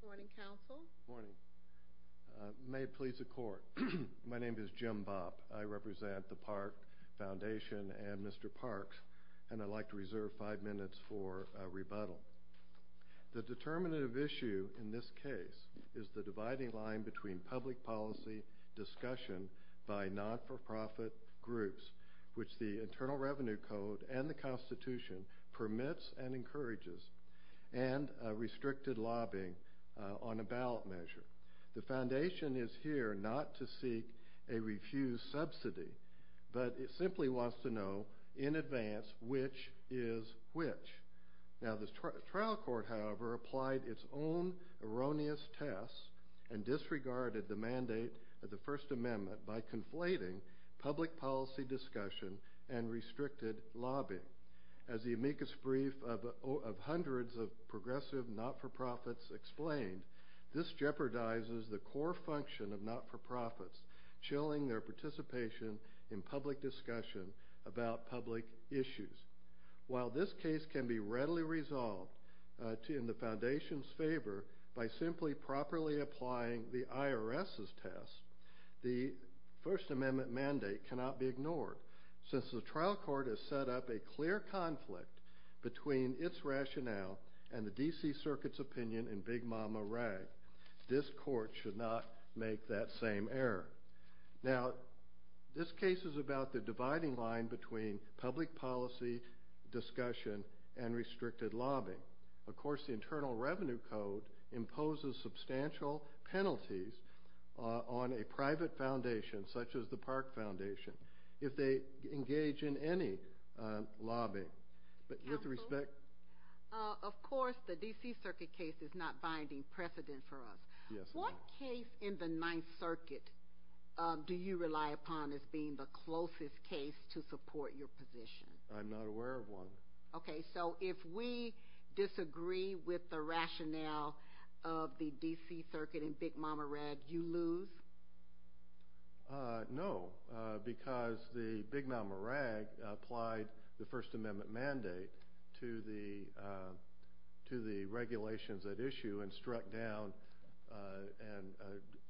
Good morning, counsel. Good morning. May it please the court, my name is Jim Bopp. I represent the Park Foundation and Mr. Parks, and I'd like to reserve five minutes for a rebuttal. The determinative issue in this case is the dividing line between public policy discussion by not-for-profit groups, which the Internal Revenue Code and the Constitution permits and encourages, and restricted lobbying on a ballot measure. The Foundation is here not to seek a refused subsidy, but it simply wants to know, in advance, which is which. Now the trial court, however, applied its own erroneous tests and disregarded the mandate of the First Amendment by conflating public policy discussion and restricted lobbying. As the amicus brief of hundreds of progressive not-for-profits explained, this jeopardizes the core function of not-for-profits, chilling their participation in public discussion about public issues. While this case can be readily resolved in the Foundation's favor by simply properly applying the IRS's test, the First Amendment mandate cannot be ignored, since the trial court has set up a clear conflict between its rationale and the D.C. Circuit's opinion in Big Mama Rag. This court should not make that same error. Now this case is about the dividing line between public policy discussion and restricted lobbying. Of course, the Internal Revenue Code imposes substantial penalties on a private foundation, such as the Park Foundation, if they engage in any lobbying. But with respect... Counsel? Of course, the D.C. Circuit case is not binding precedent for us. Yes, ma'am. What case in the Ninth Circuit do you rely upon as being the closest case to support your position? I'm not aware of one. Okay, so if we disagree with the First Amendment mandate to the regulations at issue, and struck down...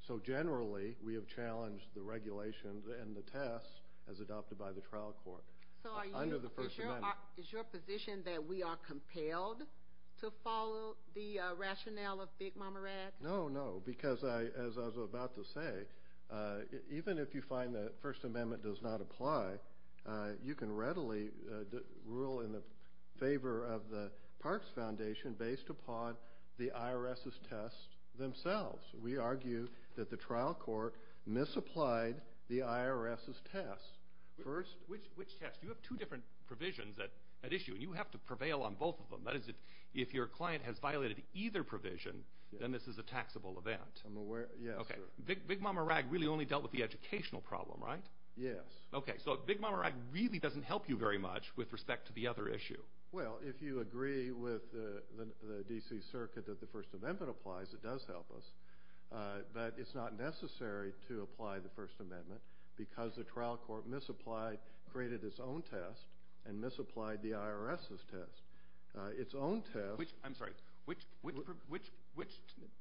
So generally, we have challenged the regulations and the tests as adopted by the trial court under the First Amendment. So is your position that we are compelled to follow the rationale of Big Mama Rag? No, no, because as I was about to say, even if you find that the First Amendment does not apply, you can readily rule in the favor of the Parks Foundation based upon the IRS's tests themselves. We argue that the trial court misapplied the IRS's tests. Which tests? You have two different provisions at issue, and you have to prevail on both of them. That is, if your client has violated either provision, then this is a taxable event. I'm aware. Yes, sir. Okay. Big Mama Rag really only dealt with the educational problem, right? Yes. Okay, so Big Mama Rag really doesn't have to help you very much with respect to the other issue. Well, if you agree with the D.C. Circuit that the First Amendment applies, it does help us. But it's not necessary to apply the First Amendment, because the trial court misapplied, created its own test, and misapplied the IRS's test. Its own test... I'm sorry, which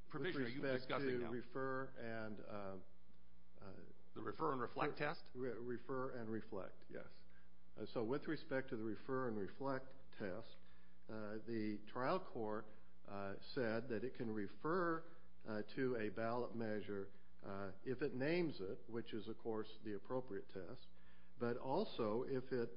provision are you discussing now? With respect to refer and... The refer and reflect test? Refer and reflect, yes. So with respect to the refer and reflect test, the trial court said that it can refer to a ballot measure if it names it, which is, of course, the appropriate test, but also if it,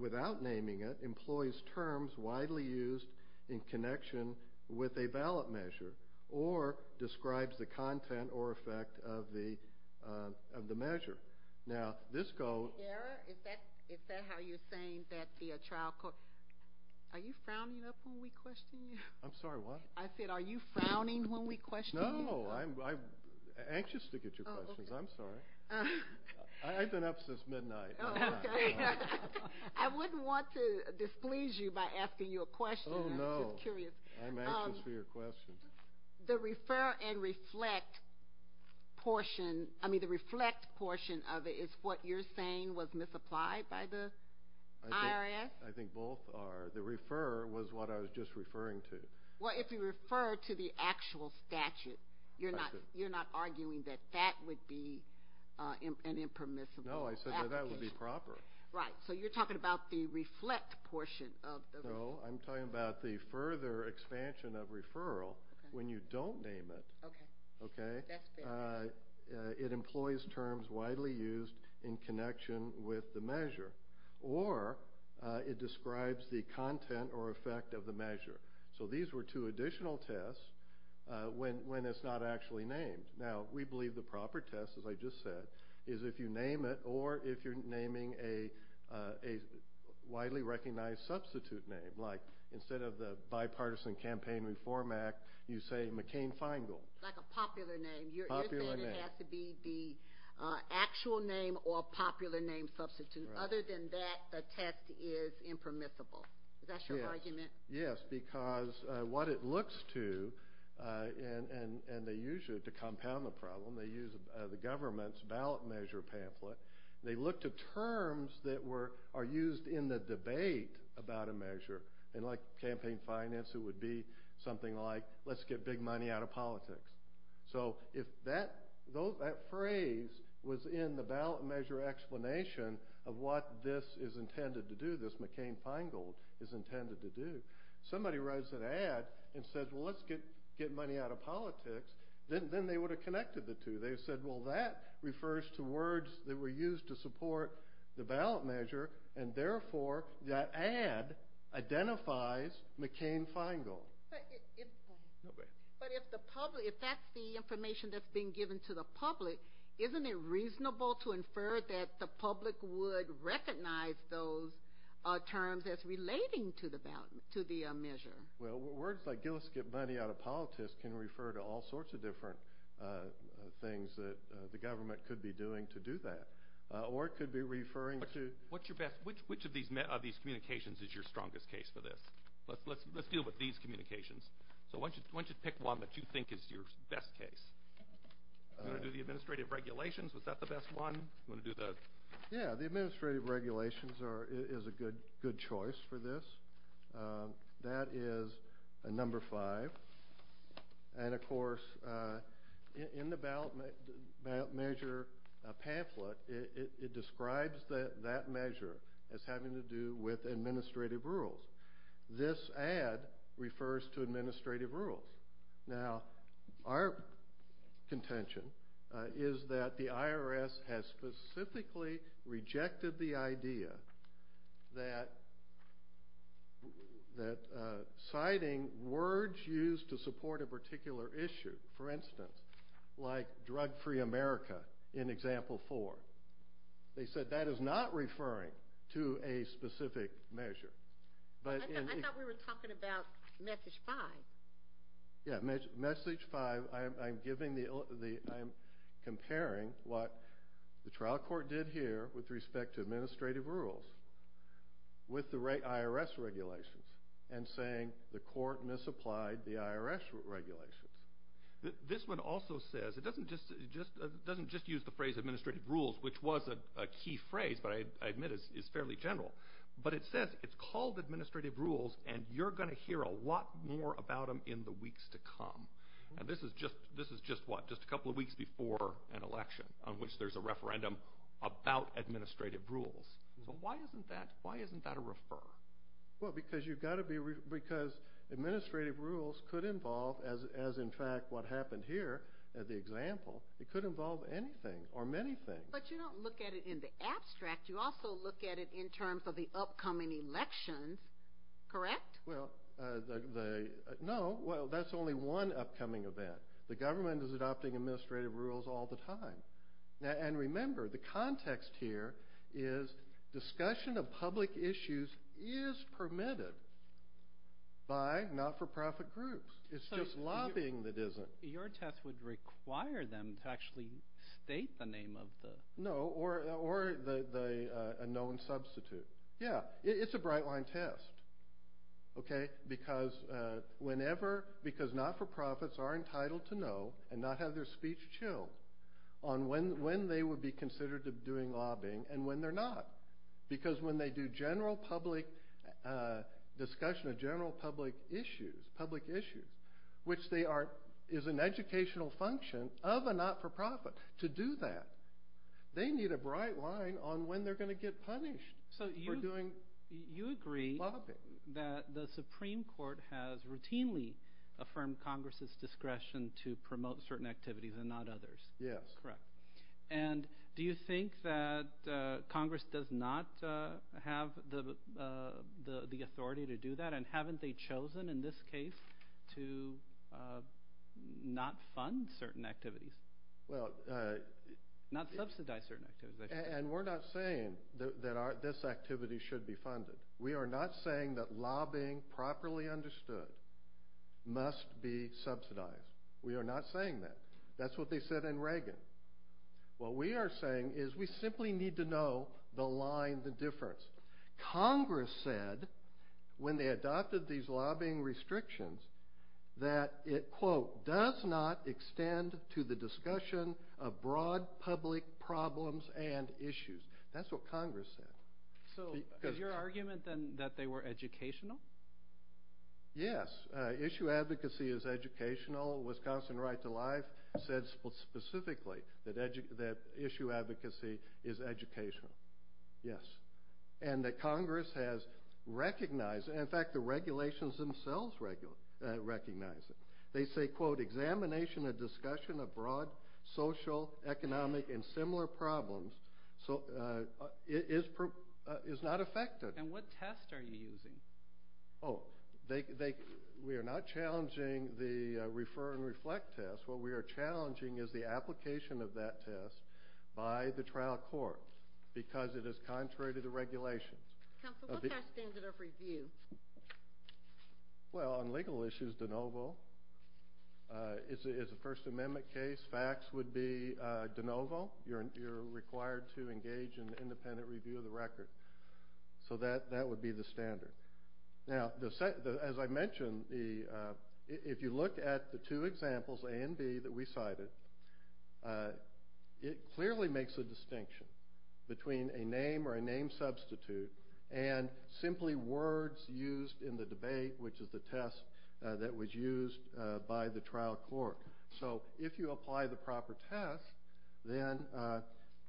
without naming it, employs terms widely used in connection with a ballot measure, or describes the content or effect of the measure. Now, this goes... Is that how you're saying that the trial court... Are you frowning up when we question you? I'm sorry, what? I said, are you frowning when we question you? No, I'm anxious to get your questions. I'm sorry. I've been up since midnight. Oh, okay. I wouldn't want to displease you by asking you a question. I'm just curious. Oh, no. I'm anxious for your questions. The refer and reflect portion, I mean, the reflect portion of it, is what you're saying was misapplied by the IRS? I think both are. The refer was what I was just referring to. Well, if you refer to the actual statute, you're not arguing that that would be an impermissible application? No, I said that that would be proper. Right. So, you're talking about the reflect portion of the... No, I'm talking about the further expansion of referral when you don't name it. Okay. Okay. That's fair. It employs terms widely used in connection with the measure, or it describes the content or effect of the measure. So, these were two additional tests when it's not actually named. Now, we believe the proper test, as I just said, is if you name it or if you're naming a widely recognized substitute name. Like, instead of the Bipartisan Campaign Reform Act, you say McCain-Feingold. Like a popular name. Popular name. You're saying it has to be the actual name or popular name substitute. Right. Other than that, the test is impermissible. Is that your argument? Yes, because what it looks to, and they use it to compound the problem. They use the government's ballot measure pamphlet. They look to terms that are used in the debate about a measure. And like campaign finance, it would be something like, let's get big money out of politics. So, if that phrase was in the ballot measure explanation of what this is intended to do, this McCain-Feingold is intended to do, somebody writes an ad and says, well, let's get money out of politics, then they would have connected the two. They said, well, that refers to words that were used to support the ballot measure, and therefore, that ad identifies McCain-Feingold. But if the public, if that's the information that's being given to the public, isn't it reasonable to infer that the public would recognize those terms as relating to the measure? Well, words like, let's get money out of politics, can refer to all sorts of different things that the government could be doing to do that. Or it could be referring to. What's your best, which of these communications is your strongest case for this? Let's deal with these communications. So, why don't you pick one that you think is your best case? You want to do the administrative regulations? Was that the best one? You want to do the... Yeah, the administrative regulations is a good choice for this. That is number five. And, of course, in the ballot measure pamphlet, it describes that measure as having to do with administrative rules. This ad refers to administrative rules. Now, our contention is that the IRS has specifically rejected the idea that citing words used to support a particular issue, for instance, like drug-free America in example four. They said that is not referring to a specific measure. I thought we were talking about message five. Yeah, message five, I'm comparing what the trial court did here with respect to administrative rules with the IRS regulations and saying the court misapplied the IRS regulations. This one also says, it doesn't just use the phrase administrative rules, which was a key phrase, but I admit it's fairly general. But, it says it's called administrative rules and you're going to hear a lot more about them in the weeks to come. And, this is just what, just a couple of weeks before an election on which there's a referendum about administrative rules. So, why isn't that a refer? Well, because you've got to be, because administrative rules could involve, as in fact what happened here at the example, it could involve anything or many things. But, you don't look at it in the abstract. You also look at it in terms of the upcoming elections, correct? Well, no, that's only one upcoming event. The government is adopting administrative rules all the time. And, remember, the context here is discussion of public issues is permitted by not-for-profit groups. It's just lobbying that isn't. Your test would require them to actually state the name of the. No, or a known substitute. Yeah, it's a bright line test. Okay, because whenever, because not-for-profits are entitled to know and not have their speech chilled on when they would be considered doing lobbying and when they're not. Because when they do general public discussion of general public issues, public issues, which they are, is an educational function of a not-for-profit to do that. They need a bright line on when they're going to get punished for doing lobbying. You agree that the Supreme Court has routinely affirmed Congress' discretion to promote certain activities and not others. Yes. Correct. And do you think that Congress does not have the authority to do that? And haven't they chosen, in this case, to not fund certain activities, not subsidize certain activities? And we're not saying that this activity should be funded. We are not saying that lobbying properly understood must be subsidized. We are not saying that. That's what they said in Reagan. What we are saying is we simply need to know the line, the difference. Congress said, when they adopted these lobbying restrictions, that it, quote, does not extend to the discussion of broad public problems and issues. That's what Congress said. So is your argument then that they were educational? Yes. Issue advocacy is educational. Wisconsin Right to Life said specifically that issue advocacy is educational. Yes. And that Congress has recognized it. In fact, the regulations themselves recognize it. They say, quote, examination and discussion of broad social, economic, and similar problems is not effective. And what test are you using? Oh, we are not challenging the refer and reflect test. What we are challenging is the application of that test by the trial court because it is contrary to the regulations. Counsel, what's our standard of review? Well, on legal issues, de novo. It's a First Amendment case. Facts would be de novo. You're required to engage in independent review of the record. So that would be the standard. Now, as I mentioned, if you look at the two examples, A and B, that we cited, it clearly makes a distinction between a name or a name substitute and simply words used in the debate, which is the test that was used by the trial court. So if you apply the proper test, then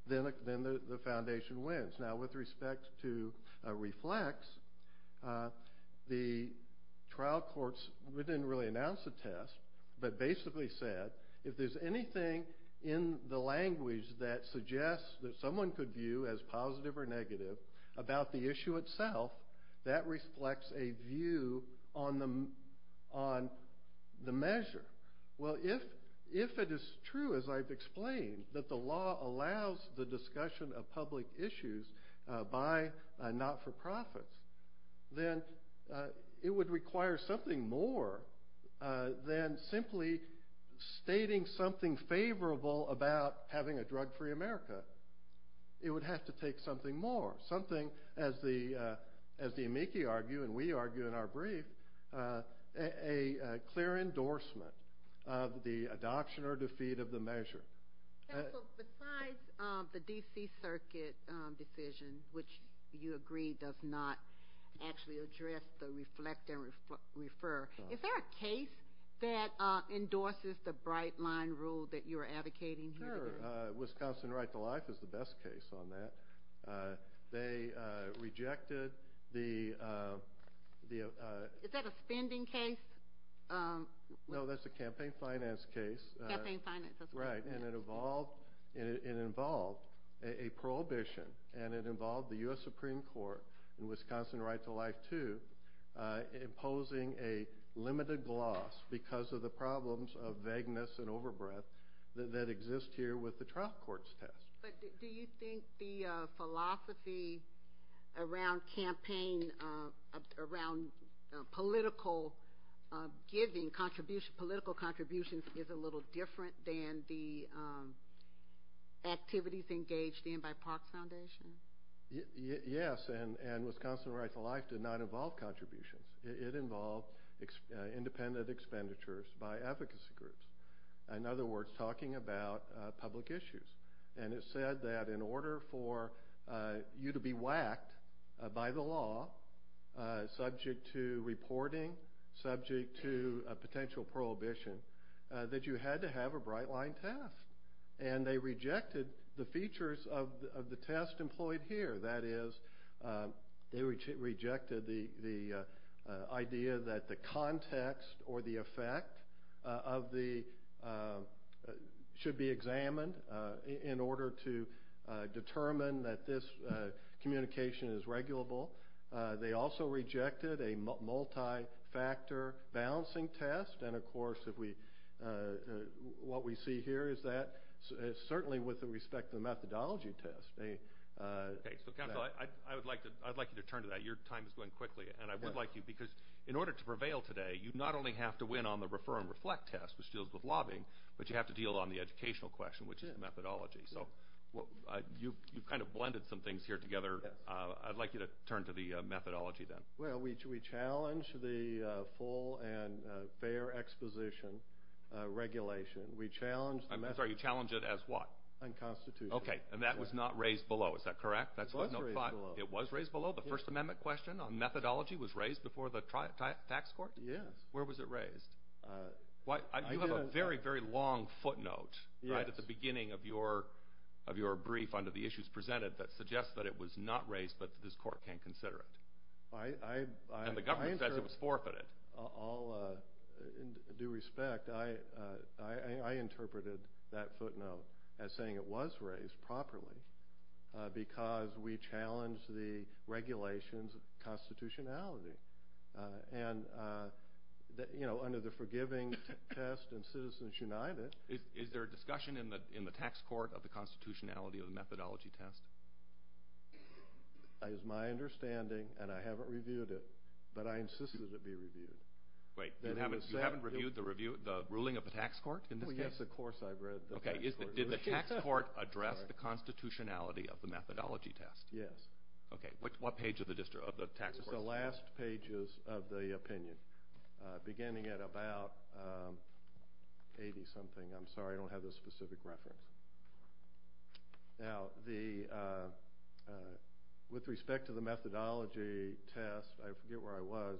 the foundation wins. Now, with respect to reflects, the trial courts didn't really announce a test, but basically said if there's anything in the language that suggests that someone could view as positive or negative about the issue itself, that reflects a view on the measure. Well, if it is true, as I've explained, that the law allows the discussion of public issues by not-for-profits, then it would require something more than simply stating something favorable about having a drug-free America. It would have to take something more. Something, as the amici argue and we argue in our brief, a clear endorsement of the adoption or defeat of the measure. Counsel, besides the D.C. Circuit decision, which you agree does not actually address the reflect and refer, is there a case that endorses the bright-line rule that you're advocating here today? Wisconsin right-to-life is the best case on that. They rejected the... Is that a spending case? No, that's a campaign finance case. Campaign finance, that's right. Right. And it involved a prohibition, and it involved the U.S. Supreme Court in Wisconsin right-to-life, too, by imposing a limited gloss because of the problems of vagueness and overbreath that exist here with the trial court's test. But do you think the philosophy around campaign, around political giving, political contributions is a little different than the activities engaged in by Parks Foundation? Yes, and Wisconsin right-to-life did not involve contributions. It involved independent expenditures by advocacy groups. In other words, talking about public issues. And it said that in order for you to be whacked by the law, subject to reporting, subject to a potential prohibition, that you had to have a bright-line test. And they rejected the features of the test employed here. That is, they rejected the idea that the context or the effect of the... should be examined in order to determine that this communication is regulable. They also rejected a multi-factor balancing test. And, of course, what we see here is that certainly with respect to the methodology test. Okay. So, counsel, I would like you to turn to that. Your time is going quickly. And I would like you, because in order to prevail today, you not only have to win on the refer and reflect test, which deals with lobbying, but you have to deal on the educational question, which is methodology. So you've kind of blended some things here together. I'd like you to turn to the methodology then. Well, we challenge the full and fair exposition regulation. We challenge the methodology. I'm sorry. You challenge it as what? Unconstitutional. Okay. And that was not raised below. Is that correct? It was raised below. It was raised below? The First Amendment question on methodology was raised before the tax court? Yes. Where was it raised? You have a very, very long footnote right at the beginning of your brief under the issues presented that suggests that it was not raised, but this court can't consider it. And the government says it was forfeited. In due respect, I interpreted that footnote as saying it was raised properly, because we challenged the regulations of constitutionality. And, you know, under the forgiving test in Citizens United. Is there a discussion in the tax court of the constitutionality of the methodology test? As my understanding, and I haven't reviewed it, but I insisted it be reviewed. Wait. You haven't reviewed the ruling of the tax court in this case? Well, yes, of course I've read the tax court. Okay. Did the tax court address the constitutionality of the methodology test? Yes. Okay. What page of the tax court? It's the last pages of the opinion, beginning at about 80-something. I'm sorry, I don't have the specific reference. Now, with respect to the methodology test, I forget where I was,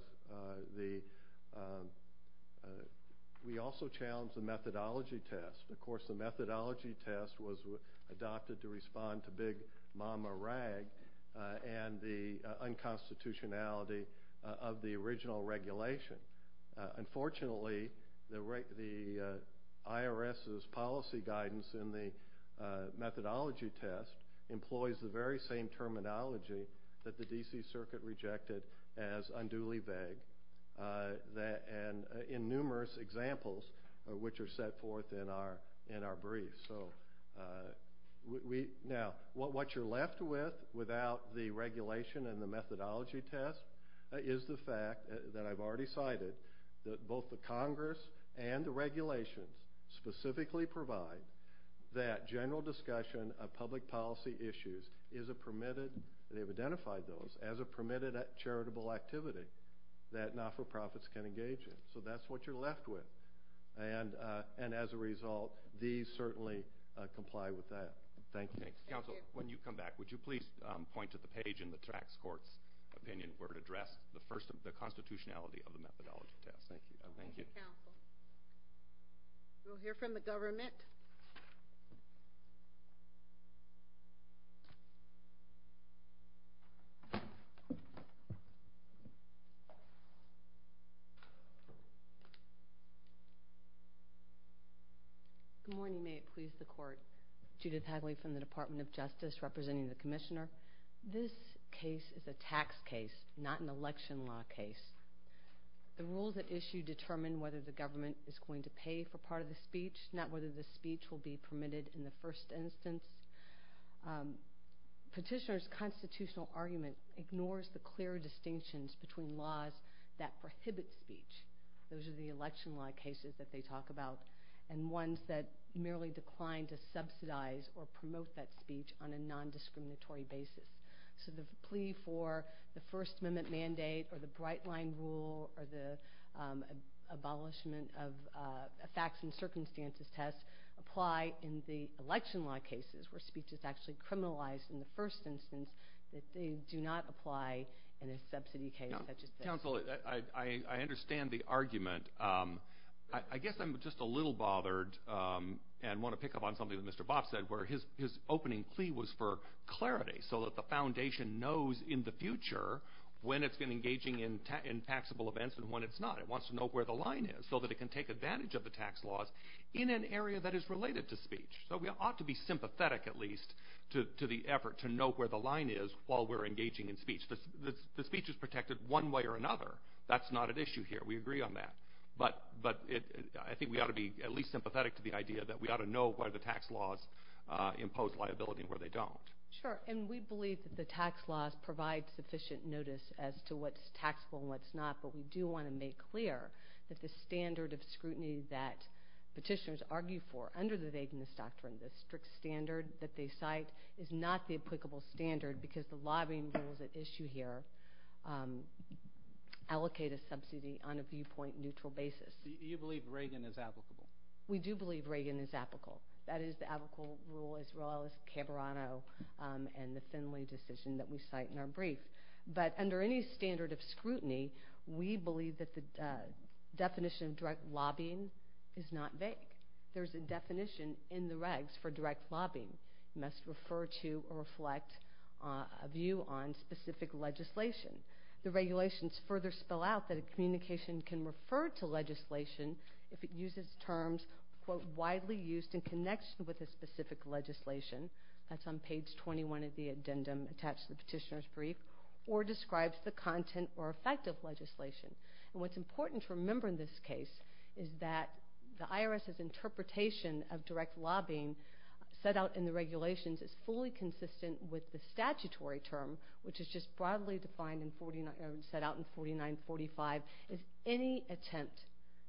we also challenged the methodology test. Of course, the methodology test was adopted to respond to Big Mama Rag and the unconstitutionality of the original regulation. Unfortunately, the IRS's policy guidance in the methodology test employs the very same terminology that the D.C. Circuit rejected as unduly vague, and in numerous examples which are set forth in our brief. Now, what you're left with without the regulation and the methodology test is the fact that I've already cited that both the Congress and the regulations specifically provide that general discussion of public policy issues is a permitted, they've identified those as a permitted charitable activity that not-for-profits can engage in. So that's what you're left with. And as a result, these certainly comply with that. Thank you. Counsel, when you come back, would you please point to the page in the tax court's opinion where it addressed the constitutionality of the methodology test? Thank you. We'll hear from the government. Good morning. May it please the Court. Judith Hadley from the Department of Justice representing the Commissioner. This case is a tax case, not an election law case. The rules at issue determine whether the government is going to pay for part of the speech, not whether the speech will be permitted in the first instance. Petitioner's constitutional argument ignores the clear distinctions between laws that prohibit speech. Those are the election law cases that they talk about, and ones that merely decline to subsidize or promote that speech on a nondiscriminatory basis. So the plea for the First Amendment mandate or the Bright Line rule or the abolishment of facts and circumstances test apply in the election law cases, where speech is actually criminalized in the first instance, that they do not apply in a subsidy case such as this. Counsel, I understand the argument. I guess I'm just a little bothered and want to pick up on something that Mr. Bob said, where his opening plea was for clarity so that the foundation knows in the future when it's been engaging in taxable events and when it's not. It wants to know where the line is so that it can take advantage of the tax laws in an area that is related to speech. So we ought to be sympathetic at least to the effort to know where the line is while we're engaging in speech. The speech is protected one way or another. That's not at issue here. We agree on that. But I think we ought to be at least sympathetic to the idea that we ought to know where the tax laws impose liability and where they don't. Sure, and we believe that the tax laws provide sufficient notice as to what's taxable and what's not, but we do want to make clear that the standard of scrutiny that petitioners argue for under the vagueness doctrine, the strict standard that they cite, is not the applicable standard because the lobbying rules at issue here allocate a subsidy on a viewpoint-neutral basis. Do you believe Reagan is applicable? We do believe Reagan is applicable. That is the applicable rule as well as Cabrano and the Finley decision that we cite in our brief. But under any standard of scrutiny, we believe that the definition of direct lobbying is not vague. There's a definition in the regs for direct lobbying. It must refer to or reflect a view on specific legislation. The regulations further spell out that a communication can refer to legislation if it uses terms, quote, widely used in connection with a specific legislation. That's on page 21 of the addendum attached to the petitioner's brief, or describes the content or effect of legislation. And what's important to remember in this case is that the IRS's interpretation of direct lobbying set out in the regulations is fully consistent with the statutory term, which is just broadly defined and set out in 4945, is any attempt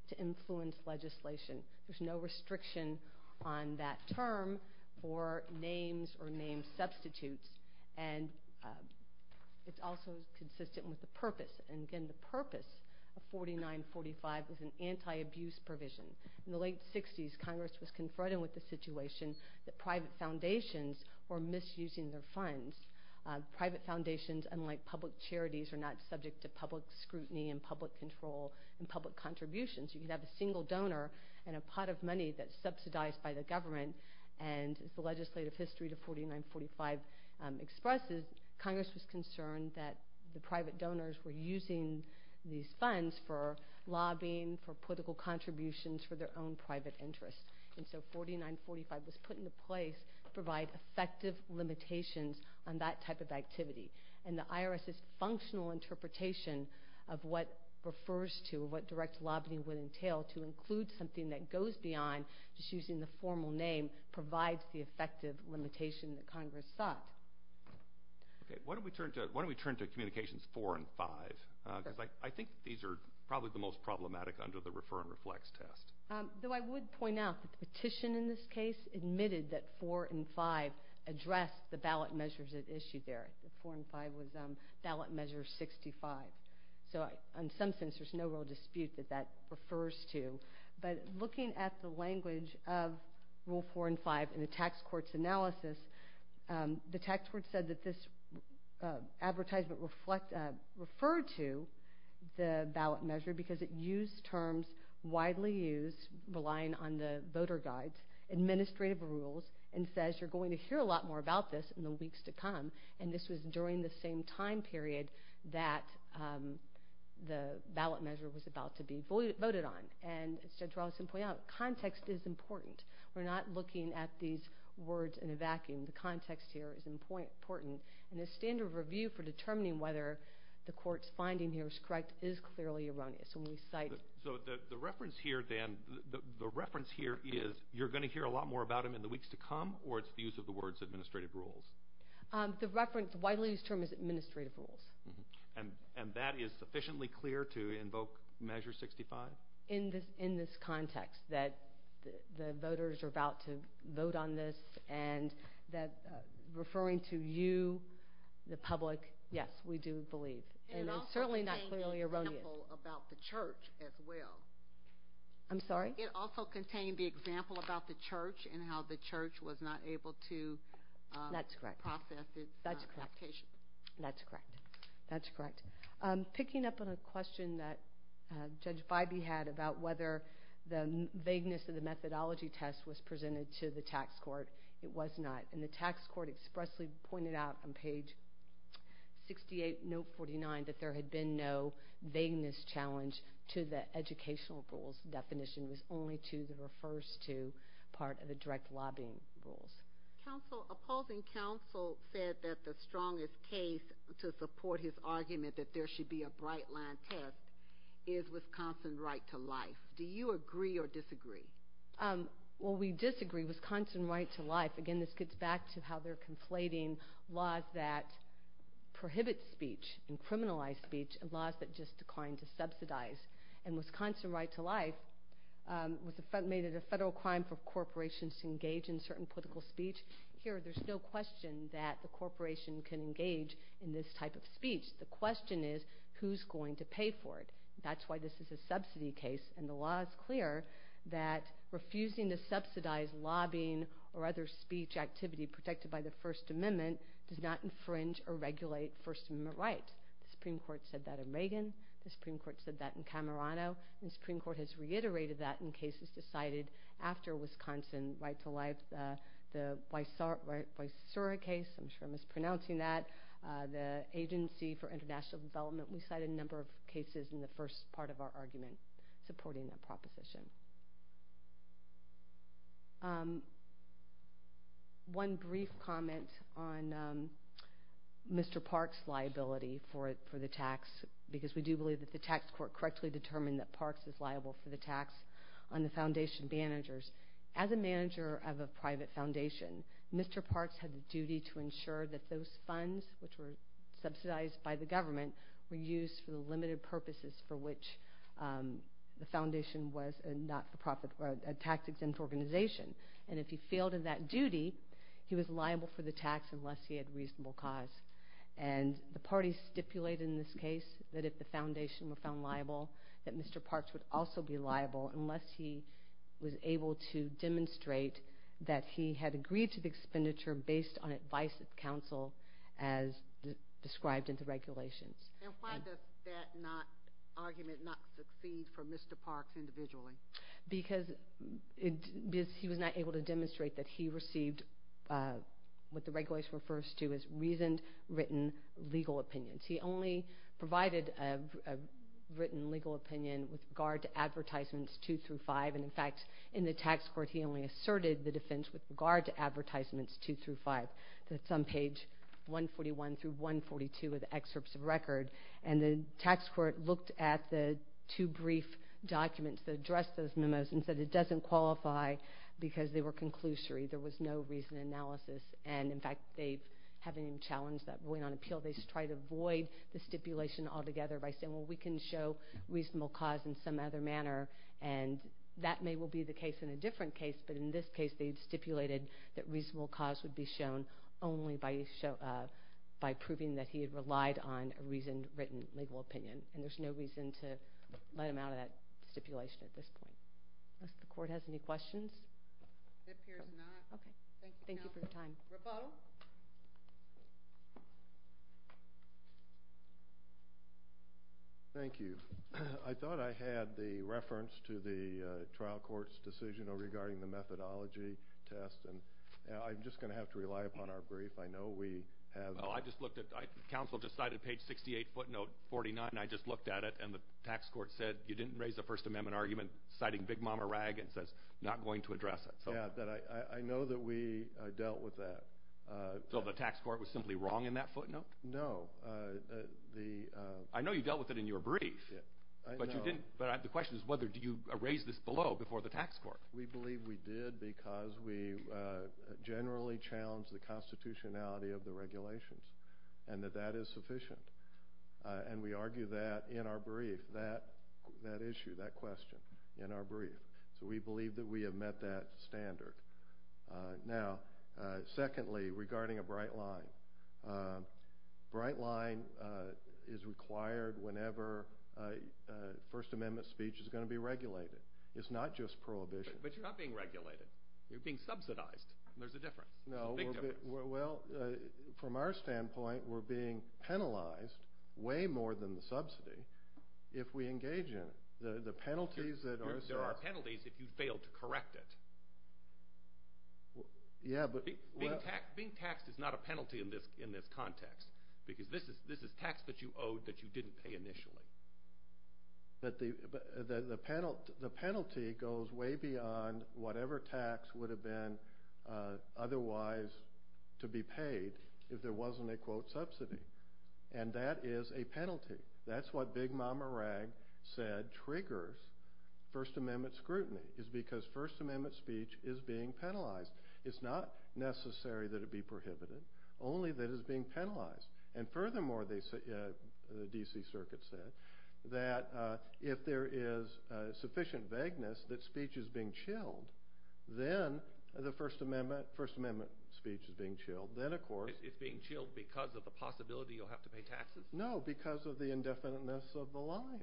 to influence legislation. There's no restriction on that term for names or name substitutes. And it's also consistent with the purpose. And again, the purpose of 4945 is an anti-abuse provision. In the late 60s, Congress was confronted with the situation that private foundations were misusing their funds. Private foundations, unlike public charities, are not subject to public scrutiny and public control and public contributions. You can have a single donor and a pot of money that's subsidized by the government, and as the legislative history to 4945 expresses, Congress was concerned that the private donors were using these funds for lobbying, for political contributions, for their own private interests. And so 4945 was put into place to provide effective limitations on that type of activity. And the IRS's functional interpretation of what refers to, what direct lobbying would entail to include something that goes beyond just using the formal name provides the effective limitation that Congress sought. Okay. Why don't we turn to Communications 4 and 5? Because I think these are probably the most problematic under the Refer and Reflects test. Though I would point out that the petition in this case admitted that 4 and 5 addressed the ballot measures it issued there. 4 and 5 was ballot measure 65. So in some sense, there's no real dispute that that refers to. But looking at the language of Rule 4 and 5 in the tax court's analysis, the tax court said that this advertisement referred to the ballot measure because it used terms widely used, relying on the voter guides, administrative rules, and says you're going to hear a lot more about this in the weeks to come. And this was during the same time period that the ballot measure was about to be voted on. And as Judge Rawlinson pointed out, context is important. We're not looking at these words in a vacuum. The context here is important. And the standard of review for determining whether the court's finding here is correct is clearly erroneous. So the reference here, Dan, the reference here is you're going to hear a lot more about them in the weeks to come, or it's the use of the words administrative rules? The reference widely used term is administrative rules. And that is sufficiently clear to invoke measure 65? In this context that the voters are about to vote on this and that referring to you, the public, yes, we do believe. And it's certainly not clearly erroneous. It also contained the example about the church as well. I'm sorry? It also contained the example about the church and how the church was not able to process its application. That's correct. That's correct. That's correct. Picking up on a question that Judge Feibe had about whether the vagueness of the methodology test was presented to the tax court, it was not. And the tax court expressly pointed out on page 68, note 49, that there had been no vagueness challenge to the educational rules definition. It was only to the refers to part of the direct lobbying rules. Counsel, opposing counsel said that the strongest case to support his argument that there should be a bright line test is Wisconsin right to life. Do you agree or disagree? Well, we disagree, Wisconsin right to life. Again, this gets back to how they're conflating laws that prohibit speech and criminalize speech and laws that just decline to subsidize. And Wisconsin right to life made it a federal crime for corporations to engage in certain political speech. Here, there's no question that the corporation can engage in this type of speech. The question is who's going to pay for it. That's why this is a subsidy case, and the law is clear that refusing to subsidize lobbying or other speech activity protected by the First Amendment does not infringe or regulate First Amendment rights. The Supreme Court said that in Reagan. The Supreme Court said that in Camerano. The Supreme Court has reiterated that in cases decided after Wisconsin right to life. The Wysura case, I'm sure I'm mispronouncing that, the Agency for International Development, we cited a number of cases in the first part of our argument supporting that proposition. One brief comment on Mr. Parks' liability for the tax, because we do believe that the tax court correctly determined that Parks is liable for the tax on the foundation managers. As a manager of a private foundation, Mr. Parks had the duty to ensure that those funds, which were subsidized by the government, were used for the limited purposes for which the foundation was a tax-exempt organization. And if he failed in that duty, he was liable for the tax unless he had reasonable cause. And the party stipulated in this case that if the foundation were found liable, that Mr. Parks would also be liable unless he was able to demonstrate that he had agreed to the expenditure based on advice of counsel as described in the regulations. And why does that argument not succeed for Mr. Parks individually? Because he was not able to demonstrate that he received what the regulations refers to as reasoned, written legal opinions. He only provided a written legal opinion with regard to advertisements two through five. And in fact, in the tax court, he only asserted the defense with regard to advertisements two through five. That's on page 141 through 142 of the excerpts of record. And the tax court looked at the two brief documents that addressed those memos and said it doesn't qualify because they were conclusory. There was no reasoned analysis. And in fact, they haven't even challenged that point on appeal. They just try to avoid the stipulation altogether by saying, well, we can show reasonable cause in some other manner. And that may well be the case in a different case. But in this case, they stipulated that reasonable cause would be shown only by proving that he had relied on a reasoned, written legal opinion. And there's no reason to let him out of that stipulation at this point. Does the court have any questions? It appears not. Thank you for your time. Thank you, counsel. Rabeau? Thank you. I thought I had the reference to the trial court's decision regarding the methodology test. And I'm just going to have to rely upon our brief. I know we have. Well, I just looked at it. Counsel just cited page 68, footnote 49. I just looked at it. And the tax court said you didn't raise a First Amendment argument citing big mama rag and says not going to address it. Yeah, but I know that we dealt with that. So the tax court was simply wrong in that footnote? No. I know you dealt with it in your brief. But the question is whether you raised this below before the tax court. We believe we did because we generally challenged the constitutionality of the regulations and that that is sufficient. And we argue that in our brief, that issue, that question in our brief. So we believe that we have met that standard. Now, secondly, regarding a bright line. Bright line is required whenever First Amendment speech is going to be regulated. It's not just prohibition. But you're not being regulated. You're being subsidized. There's a difference. No. Well, from our standpoint, we're being penalized way more than the subsidy if we engage in it. There are penalties if you fail to correct it. Being taxed is not a penalty in this context because this is tax that you owed that you didn't pay initially. But the penalty goes way beyond whatever tax would have been otherwise to be paid if there wasn't a, quote, subsidy. And that is a penalty. That's what Big Mama Rag said triggers First Amendment scrutiny is because First Amendment speech is being penalized. It's not necessary that it be prohibited, only that it's being penalized. And furthermore, the D.C. Circuit said that if there is sufficient vagueness that speech is being chilled, then the First Amendment speech is being chilled. Then, of course. It's being chilled because of the possibility you'll have to pay taxes? No, because of the indefiniteness of the line.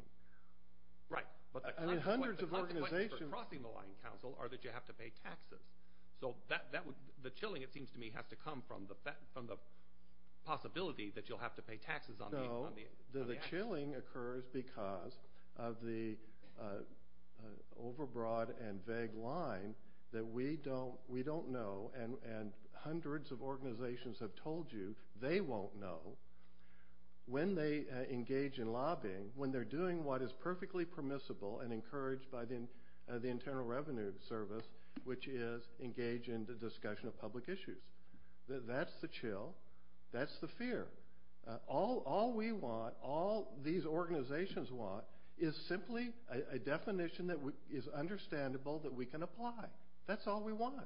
Right. But the consequence for crossing the line, counsel, are that you have to pay taxes. So the chilling, it seems to me, has to come from the possibility that you'll have to pay taxes on the action. No. The chilling occurs because of the overbroad and vague line that we don't know, and hundreds of organizations have told you they won't know, when they engage in lobbying, when they're doing what is perfectly permissible and encouraged by the Internal Revenue Service, which is engage in the discussion of public issues. That's the chill. That's the fear. All we want, all these organizations want, is simply a definition that is understandable that we can apply. That's all we want.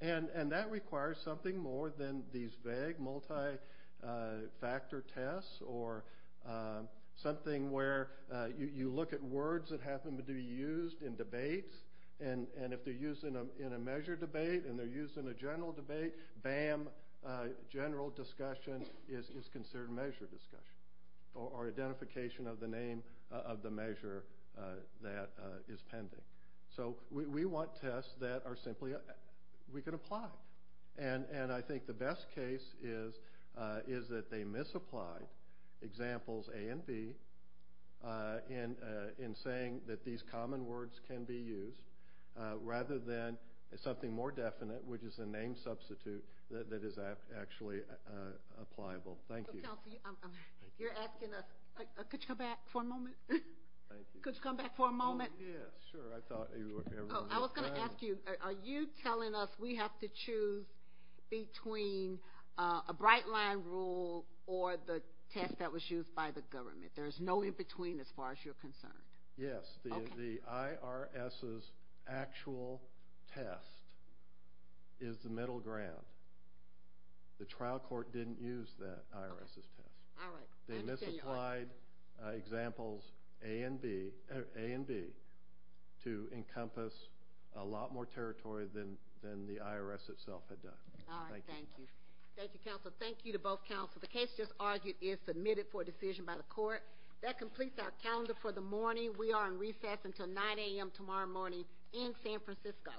And that requires something more than these vague multi-factor tests or something where you look at words that happen to be used in debates, and if they're used in a measure debate and they're used in a general debate, bam, general discussion is considered measure discussion or identification of the name of the measure that is pending. So we want tests that are simply, we can apply. And I think the best case is that they misapply examples A and B in saying that these common words can be used rather than something more definite, which is a name substitute that is actually appliable. Thank you. You're asking us, could you come back for a moment? Thank you. Could you come back for a moment? Yes, sure. I was going to ask you, are you telling us we have to choose between a bright line rule or the test that was used by the government? There's no in between as far as you're concerned. Yes. The IRS's actual test is the middle ground. The trial court didn't use the IRS's test. All right. They misapplied examples A and B to encompass a lot more territory than the IRS itself had done. All right. Thank you. Thank you, counsel. Thank you to both counsel. The case just argued is submitted for decision by the court. That completes our calendar for the morning. We are in recess until 9 a.m. tomorrow morning in San Francisco.